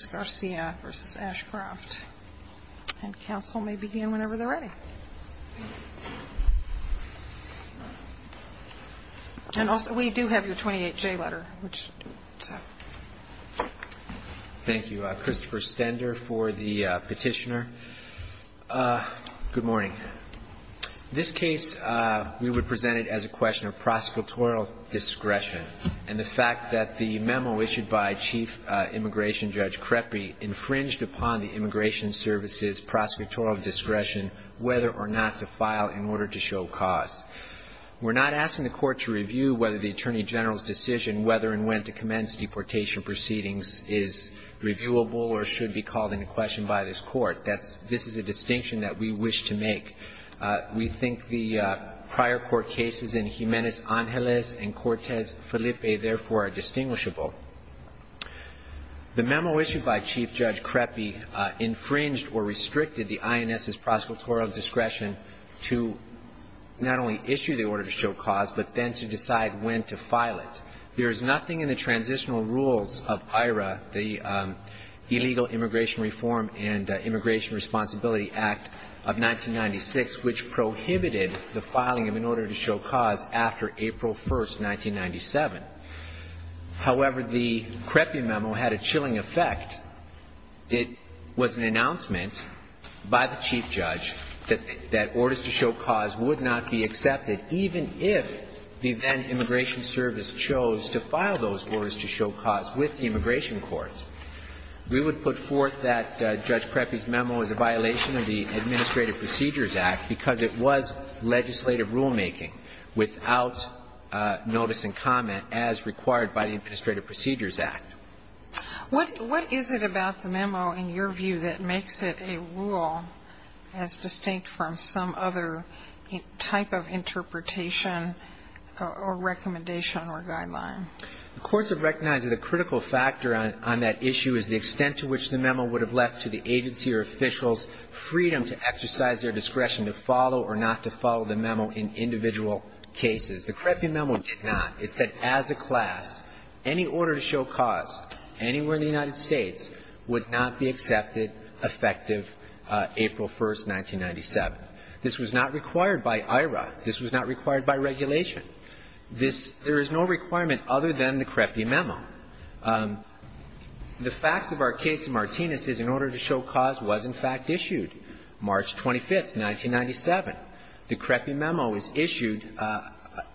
And counsel may begin whenever they're ready. And also, we do have your 28J letter. Thank you. Christopher Stender for the petitioner. Good morning. This case we would present it as a question of prosecutorial discretion, and the fact that the memo issued by Chief Immigration Judge infringed upon the Immigration Service's prosecutorial discretion whether or not to file in order to show cause. We're not asking the Court to review whether the Attorney General's decision whether and when to commence deportation proceedings is reviewable or should be called into question by this Court. This is a distinction that we wish to make. We think the prior court cases in Jimenez-Angeles and Cortez-Felipe, therefore, are distinguishable. The memo issued by Chief Judge Crepy infringed or restricted the INS's prosecutorial discretion to not only issue the order to show cause, but then to decide when to file it. There is nothing in the transitional rules of IRA, the Illegal Immigration Reform and Immigration Responsibility Act of 1996, which prohibited the filing of an order to show cause after April 1, 1997. However, the Crepy memo had a chilling effect. It was an announcement by the Chief Judge that orders to show cause would not be accepted, even if the then Immigration Service chose to file those orders to show cause with the Immigration Court. We would put forth that Judge Crepy's memo as a violation of the Administrative Procedures Act because it was legislative rulemaking without notice and comment as required by the Administrative Procedures Act. What is it about the memo, in your view, that makes it a rule as distinct from some other type of interpretation or recommendation or guideline? The courts have recognized that a critical factor on that issue is the extent to which the memo would have left to the agency or It's also important to note that the Crepy memo did not say that any order to show cause in individual cases. The Crepy memo did not. It said as a class, any order to show cause anywhere in the United States would not be accepted effective April 1, 1997. This was not required by IRA. This was not required by regulation. There is no requirement other than the Crepy memo. It was issued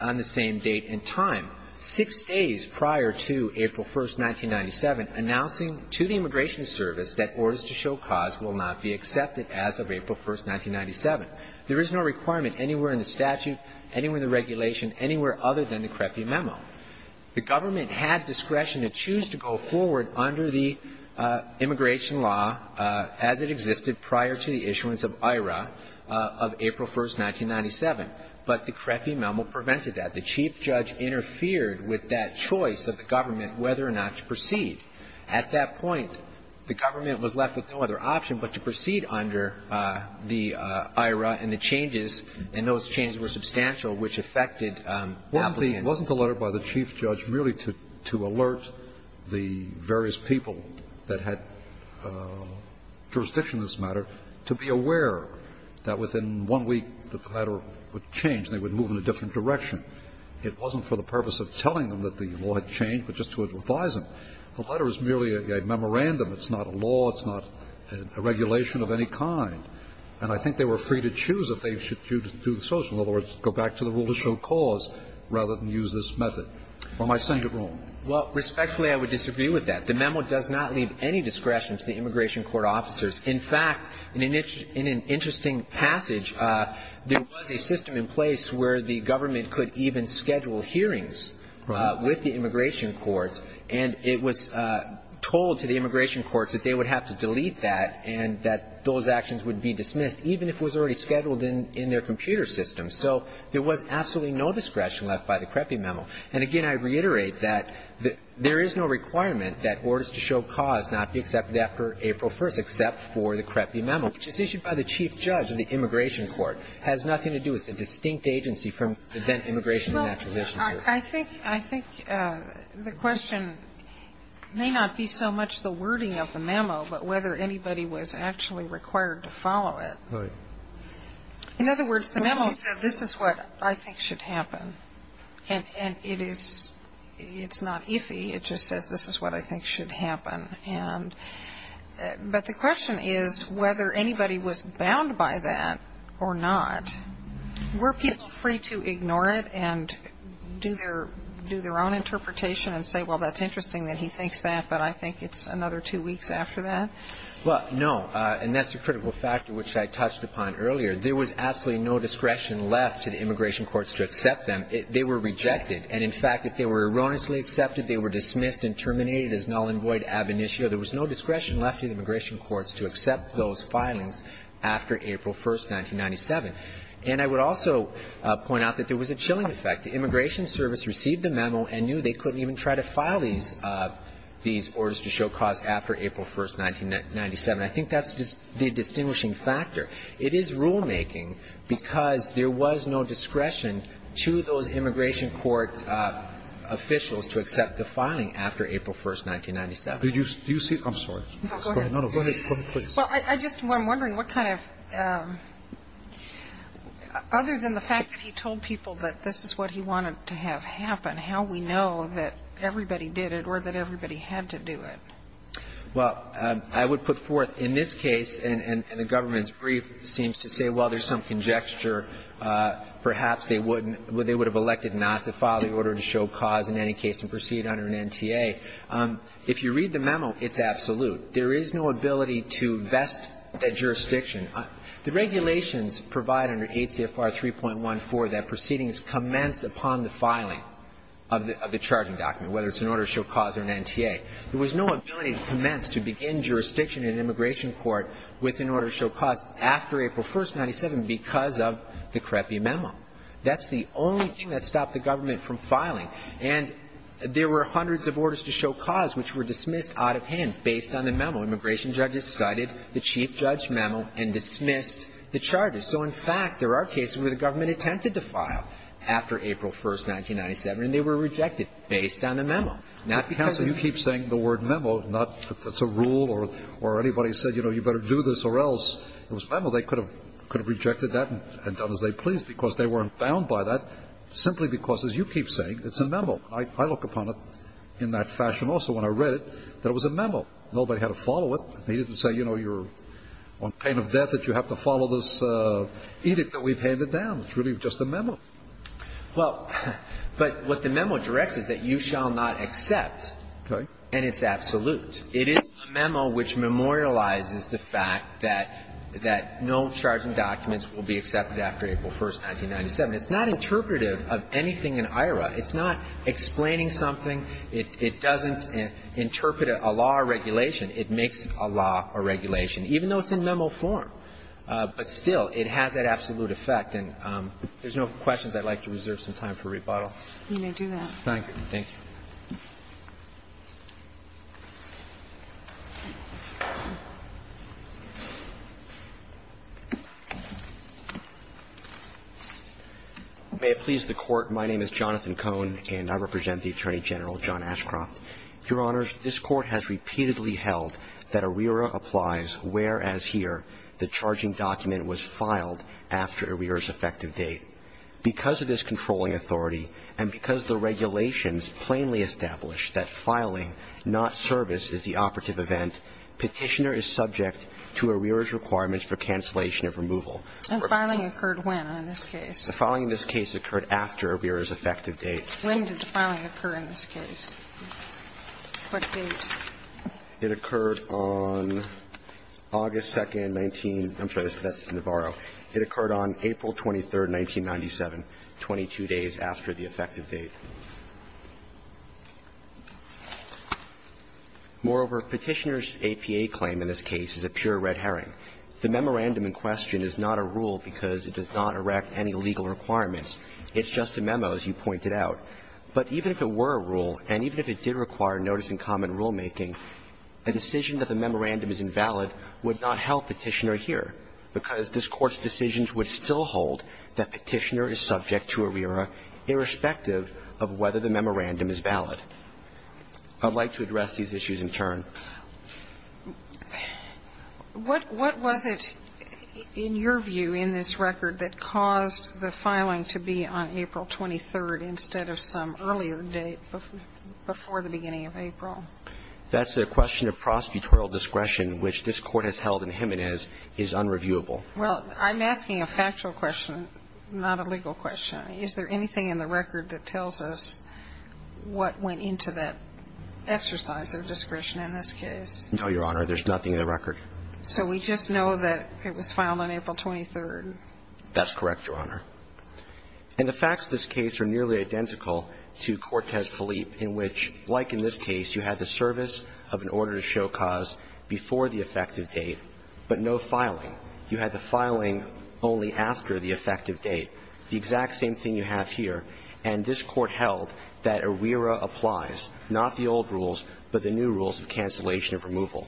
on the same date and time, six days prior to April 1, 1997, announcing to the Immigration Service that orders to show cause will not be accepted as of April 1, 1997. There is no requirement anywhere in the statute, anywhere in the regulation, anywhere other than the Crepy memo. The government had discretion to choose to go forward under the immigration law as it existed prior to the issuance of IRA of April 1, 1997, but the Crepy memo prevented that. The chief judge interfered with that choice of the government whether or not to proceed. At that point, the government was left with no other option but to proceed under the IRA and the changes, and those changes were substantial, which affected applicants. Wasn't the letter by the chief judge merely to alert the various people that had jurisdiction in this matter to be aware that within one week the letter would change and they would move in a different direction? It wasn't for the purpose of telling them that the law had changed, but just to advise them. The letter is merely a memorandum. It's not a law. It's not a regulation of any kind. And I think they were free to choose if they should do so, in other words, go back to the rule to show cause rather than use this method. Or am I saying it wrong? Well, respectfully, I would disagree with that. The memo does not leave any discretion to the immigration court officers. In fact, in an interesting passage, there was a system in place where the government could even schedule hearings with the immigration courts, and it was told to the immigration courts that they would have to delete that and that those actions would be dismissed, even if it was already scheduled in their computer system. So there was absolutely no discretion left by the CREPI memo. And, again, I reiterate that there is no requirement that orders to show cause not be accepted after April 1st, except for the CREPI memo, which is issued by the chief judge of the immigration court. It has nothing to do with a distinct agency from the then immigration and acquisitions court. Well, I think the question may not be so much the wording of the memo, but whether anybody was actually required to follow it. In other words, the memo said this is what I think should happen. And it is not iffy. It just says this is what I think should happen. But the question is whether anybody was bound by that or not. Were people free to ignore it and do their own interpretation and say, well, that's interesting that he thinks that, but I think it's another two weeks after that? Well, no, and that's a critical factor, which I touched upon earlier. There was absolutely no discretion left to the immigration courts to accept them. They were rejected. And, in fact, if they were erroneously accepted, they were dismissed and terminated as null and void ab initio. There was no discretion left to the immigration courts to accept those filings after April 1st, 1997. And I would also point out that there was a chilling effect. The immigration service received the memo and knew they couldn't even try to file these orders to show cause after April 1st, 1997. I think that's the distinguishing factor. It is rulemaking because there was no discretion to those immigration court officials to accept the filing after April 1st, 1997. Do you see? I'm sorry. No, go ahead. Well, I'm just wondering what kind of other than the fact that he told people that this is what he wanted to have happen, how we know that everybody did it or that everybody had to do it? Well, I would put forth in this case, and the government's brief seems to say, well, there's some conjecture. Perhaps they wouldn't they would have elected not to file the order to show cause in any case and proceed under an NTA. If you read the memo, it's absolute. There is no ability to vest that jurisdiction. The regulations provide under ACFR 3.14 that proceedings commence upon the filing of the charging document, whether it's an order to show cause or an NTA. There was no ability to commence, to begin jurisdiction in an immigration court with an order to show cause after April 1st, 1997 because of the creppy memo. That's the only thing that stopped the government from filing. And there were hundreds of orders to show cause which were dismissed out of hand based on the memo. Immigration judges cited the chief judge memo and dismissed the charges. So, in fact, there are cases where the government attempted to file after April 1st, 1997, and they were rejected based on the memo, not because of the rule or anybody said, you know, you better do this or else. It was memo. They could have rejected that and done as they pleased because they weren't bound by that simply because, as you keep saying, it's a memo. I look upon it in that fashion also when I read it, that it was a memo. Nobody had to follow it. They didn't say, you know, you're on pain of death that you have to follow this edict that we've handed down. It's really just a memo. Well, but what the memo directs is that you shall not accept. Okay. And it's absolute. It is a memo which memorializes the fact that no charging documents will be accepted after April 1st, 1997. It's not interpretive of anything in IRA. It's not explaining something. It doesn't interpret a law or regulation. It makes a law or regulation, even though it's in memo form. But still, it has that absolute effect. And there's no questions. I'd like to reserve some time for rebuttal. You may do that. Thank you. May it please the Court, my name is Jonathan Cohn, and I represent the Attorney General, John Ashcroft. Your Honors, this Court has repeatedly held that ARERA applies whereas here the charging document was filed after ARERA's effective date. Because of this controlling authority and because the regulations plainly established that filing, not service, is the operative event, Petitioner is subject to ARERA's requirements for cancellation of removal. And filing occurred when in this case? The filing in this case occurred after ARERA's effective date. When did the filing occur in this case? What date? It occurred on August 2nd, 19 – I'm sorry, that's Navarro. It occurred on April 23rd, 1997, 22 days after the effective date. Moreover, Petitioner's APA claim in this case is a pure red herring. The memorandum in question is not a rule because it does not erect any legal requirements. It's just a memo, as you pointed out. But even if it were a rule, and even if it did require notice and comment rulemaking, a decision that the memorandum is invalid would not help Petitioner here because this Court's decisions would still hold that Petitioner is subject to ARERA irrespective of whether the memorandum is valid. I would like to address these issues in turn. What was it in your view in this record that caused the filing to be on April 23rd instead of some earlier date before the beginning of April? That's the question of prosecutorial discretion, which this Court has held in Jimenez is unreviewable. Well, I'm asking a factual question, not a legal question. Is there anything in the record that tells us what went into that exercise of discretion in this case? No, Your Honor. There's nothing in the record. So we just know that it was filed on April 23rd? That's correct, Your Honor. And the facts of this case are nearly identical to Cortez-Philippe, in which, like in this case, you had the service of an order to show cause before the effective date, but no filing. You had the filing only after the effective date, the exact same thing you have here. And this Court held that ARERA applies, not the old rules, but the new rules of cancellation of removal.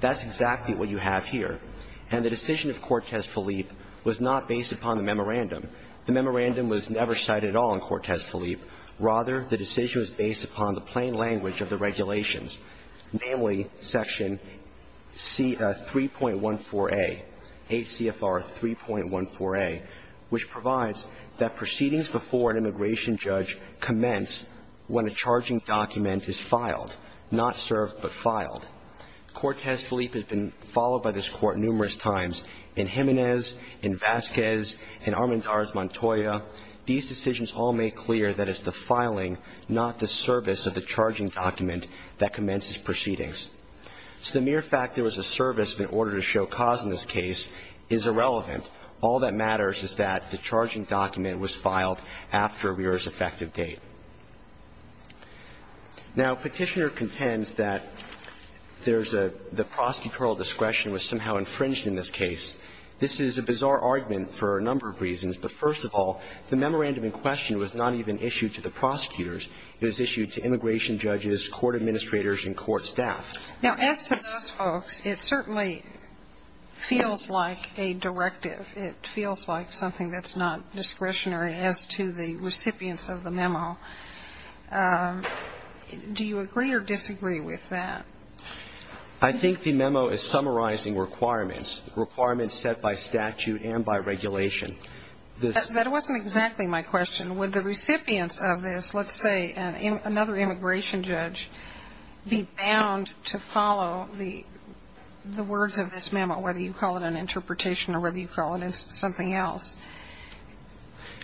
That's exactly what you have here. And the decision of Cortez-Philippe was not based upon the memorandum. The memorandum was never cited at all in Cortez-Philippe. Rather, the decision was based upon the plain language of the regulations, namely Section 3.14a, HCFR 3.14a, which provides that proceedings before an immigration judge commence when a charging document is filed, not served but filed. Cortez-Philippe has been followed by this Court numerous times. In Jimenez, in Vasquez, in Armendariz Montoya, these decisions all make clear that it's the filing, not the service, of the charging document that commences proceedings. So the mere fact there was a service of an order to show cause in this case is irrelevant. All that matters is that the charging document was filed after ARERA's effective Now, Petitioner contends that there's a the prosecutorial discretion was somehow infringed in this case. This is a bizarre argument for a number of reasons. But first of all, the memorandum in question was not even issued to the prosecutors. It was issued to immigration judges, court administrators and court staff. Now, as to those folks, it certainly feels like a directive. It feels like something that's not discretionary as to the recipients of the memo. Do you agree or disagree with that? I think the memo is summarizing requirements, requirements set by statute and by regulation. That wasn't exactly my question. Would the recipients of this, let's say another immigration judge, be bound to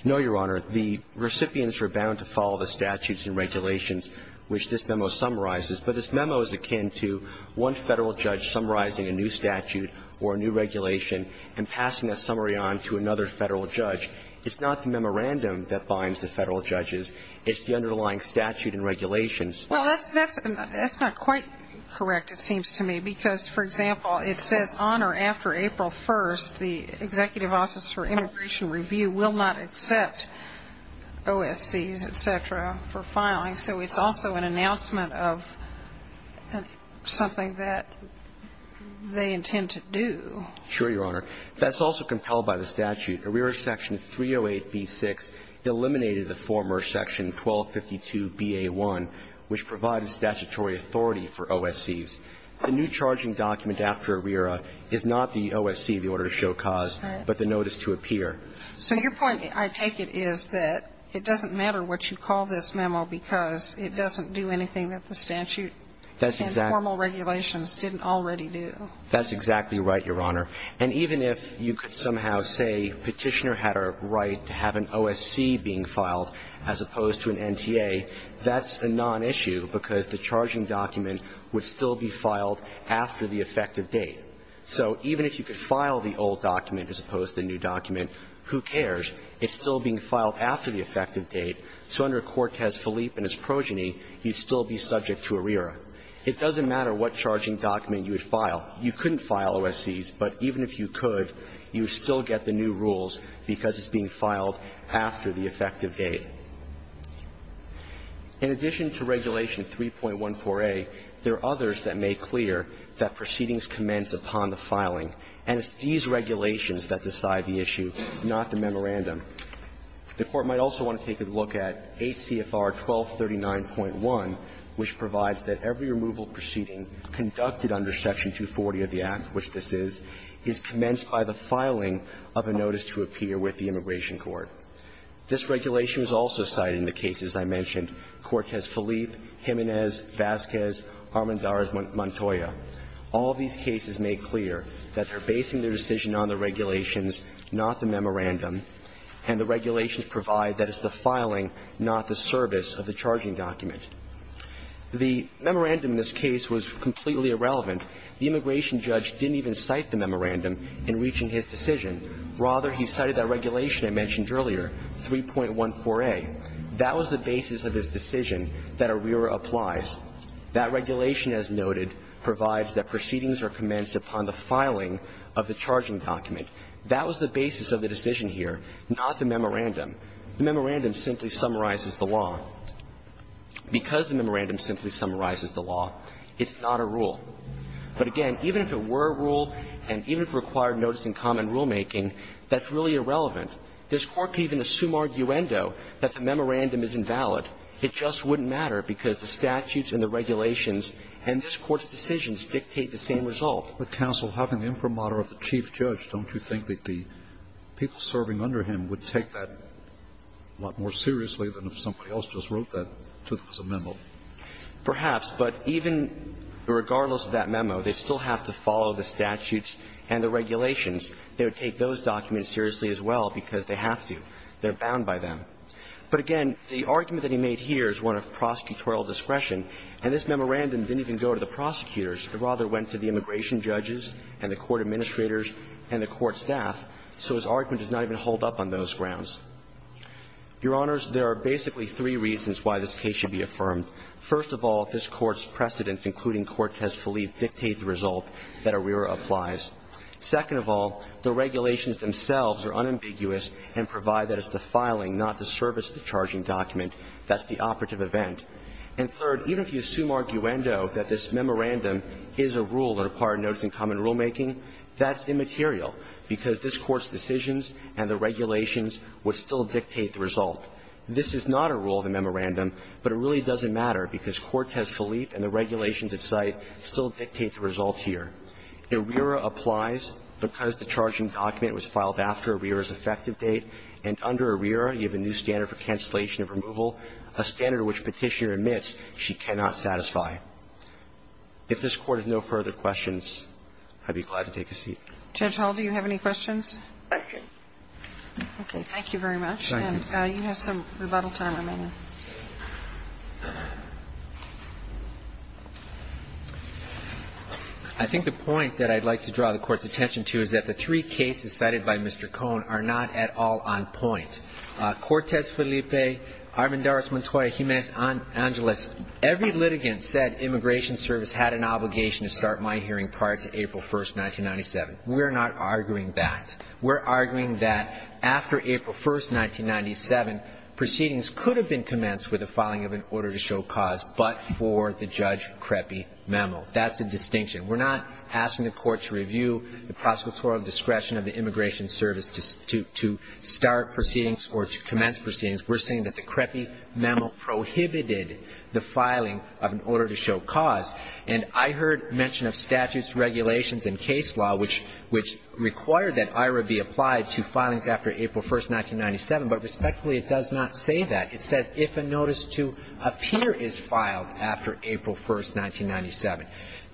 No, Your Honor. The recipients were bound to follow the statutes and regulations which this memo summarizes. But this memo is akin to one Federal judge summarizing a new statute or a new regulation and passing a summary on to another Federal judge. It's not the memorandum that binds the Federal judges. It's the underlying statute and regulations. Well, that's not quite correct, it seems to me, because, for example, it says on or after April 1st, the Executive Office for Immigration Review will not accept OSCs, et cetera, for filing. So it's also an announcement of something that they intend to do. Sure, Your Honor. That's also compelled by the statute. ARERA Section 308b-6 eliminated the former Section 1252b-a-1, which provided statutory authority for OSCs. The new charging document after ARERA is not the OSC, the order to show cause, but the notice to appear. So your point, I take it, is that it doesn't matter what you call this memo because it doesn't do anything that the statute and formal regulations didn't already do. That's exactly right, Your Honor. And even if you could somehow say Petitioner had a right to have an OSC being filed as opposed to an NTA, that's a nonissue because the charging document would still be filed after the effective date. So even if you could file the old document as opposed to the new document, who cares? It's still being filed after the effective date. So under Cortez-Philippe and its progeny, you'd still be subject to ARERA. It doesn't matter what charging document you would file. You couldn't file OSCs, but even if you could, you would still get the new rules because it's being filed after the effective date. In addition to Regulation 3.14a, there are others that make clear that proceedings commence upon the filing. And it's these regulations that decide the issue, not the memorandum. The Court might also want to take a look at 8 CFR 1239.1, which provides that every removal proceeding conducted under Section 240 of the Act, which this is, is commenced by the filing of a notice to appear with the Immigration Court. This regulation was also cited in the cases I mentioned, Cortez-Philippe, Jimenez, Vasquez, Armendariz, Montoya. All these cases make clear that they're basing their decision on the regulations, not the memorandum, and the regulations provide that it's the filing, not the service, of the charging document. The memorandum in this case was completely irrelevant. The immigration judge didn't even cite the memorandum in reaching his decision. Rather, he cited that regulation I mentioned earlier, 3.14a. That was the basis of his decision that ARERA applies. That regulation, as noted, provides that proceedings are commenced upon the filing of the charging document. That was the basis of the decision here, not the memorandum. The memorandum simply summarizes the law. Because the memorandum simply summarizes the law, it's not a rule. But again, even if it were a rule, and even if it required notice in common rulemaking, that's really irrelevant. This Court could even assume arguendo that the memorandum is invalid. It just wouldn't matter because the statutes and the regulations and this Court's decisions dictate the same result. But, counsel, having the imprimatur of the chief judge, don't you think that the people serving under him would take that a lot more seriously than if somebody else just wrote that to them as a memo? Perhaps. But even regardless of that memo, they still have to follow the statutes and the regulations. They would take those documents seriously as well because they have to. They're bound by them. But again, the argument that he made here is one of prosecutorial discretion. And this memorandum didn't even go to the prosecutors. It rather went to the immigration judges and the court administrators and the court staff. So his argument does not even hold up on those grounds. Your Honors, there are basically three reasons why this case should be affirmed. First of all, this Court's precedents, including Cortez-Philippe, dictate the result that ARERA applies. Second of all, the regulations themselves are unambiguous and provide that it's the filing, not the service of the charging document. That's the operative event. And third, even if you assume arguendo that this memorandum is a rule that acquired would still dictate the result. This is not a rule of the memorandum, but it really doesn't matter because Cortez-Philippe and the regulations at site still dictate the result here. ARERA applies because the charging document was filed after ARERA's effective date. And under ARERA, you have a new standard for cancellation of removal, a standard which Petitioner admits she cannot satisfy. If this Court has no further questions, I'd be glad to take a seat. Judge Hall, do you have any questions? I do. Okay. Thank you very much. And you have some rebuttal time remaining. I think the point that I'd like to draw the Court's attention to is that the three cases cited by Mr. Cohn are not at all on point. Cortez-Philippe, Armendariz-Montoya, Jimenez-Angeles, every litigant said Immigration Service had an obligation to start my hearing prior to April 1, 1997. We're not arguing that. We're arguing that after April 1, 1997, proceedings could have been commenced with the filing of an order to show cause, but for the Judge Crepy memo. That's a distinction. We're not asking the Court to review the prosecutorial discretion of the Immigration Service to start proceedings or to commence proceedings. We're saying that the Crepy memo prohibited the filing of an order to show cause. And I heard mention of statutes, regulations and case law which require that IHRA be applied to filings after April 1, 1997, but respectfully, it does not say that. It says if a notice to appear is filed after April 1, 1997,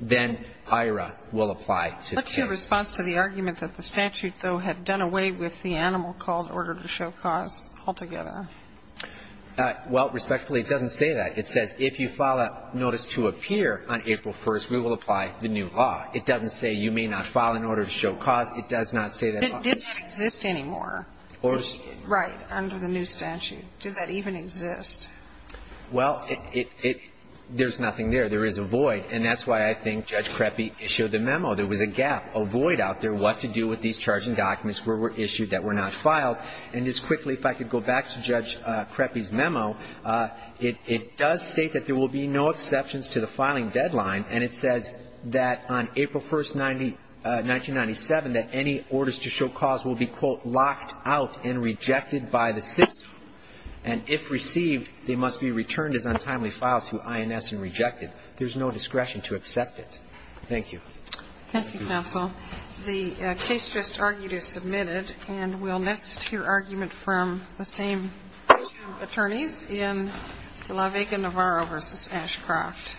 then IHRA will apply to the case. What's your response to the argument that the statute, though, had done away with the animal called order to show cause altogether? Well, respectfully, it doesn't say that. It says if you file a notice to appear on April 1st, we will apply the new law. It doesn't say you may not file an order to show cause. It does not say that. Did that exist anymore? Right, under the new statute. Did that even exist? Well, it – there's nothing there. There is a void. And that's why I think Judge Crepy issued the memo. There was a gap, a void out there, what to do with these charging documents that were issued that were not filed. And just quickly, if I could go back to Judge Crepy's memo, it does state that there will be no exceptions to the filing deadline. And it says that on April 1, 1997, that any orders to show cause will be, quote, locked out and rejected by the system. And if received, they must be returned as untimely files to INS and rejected. There's no discretion to accept it. Thank you. Thank you, counsel. The case just argued is submitted. And we'll next hear argument from the same two attorneys in DeLaVega-Navarro v. Ashcroft.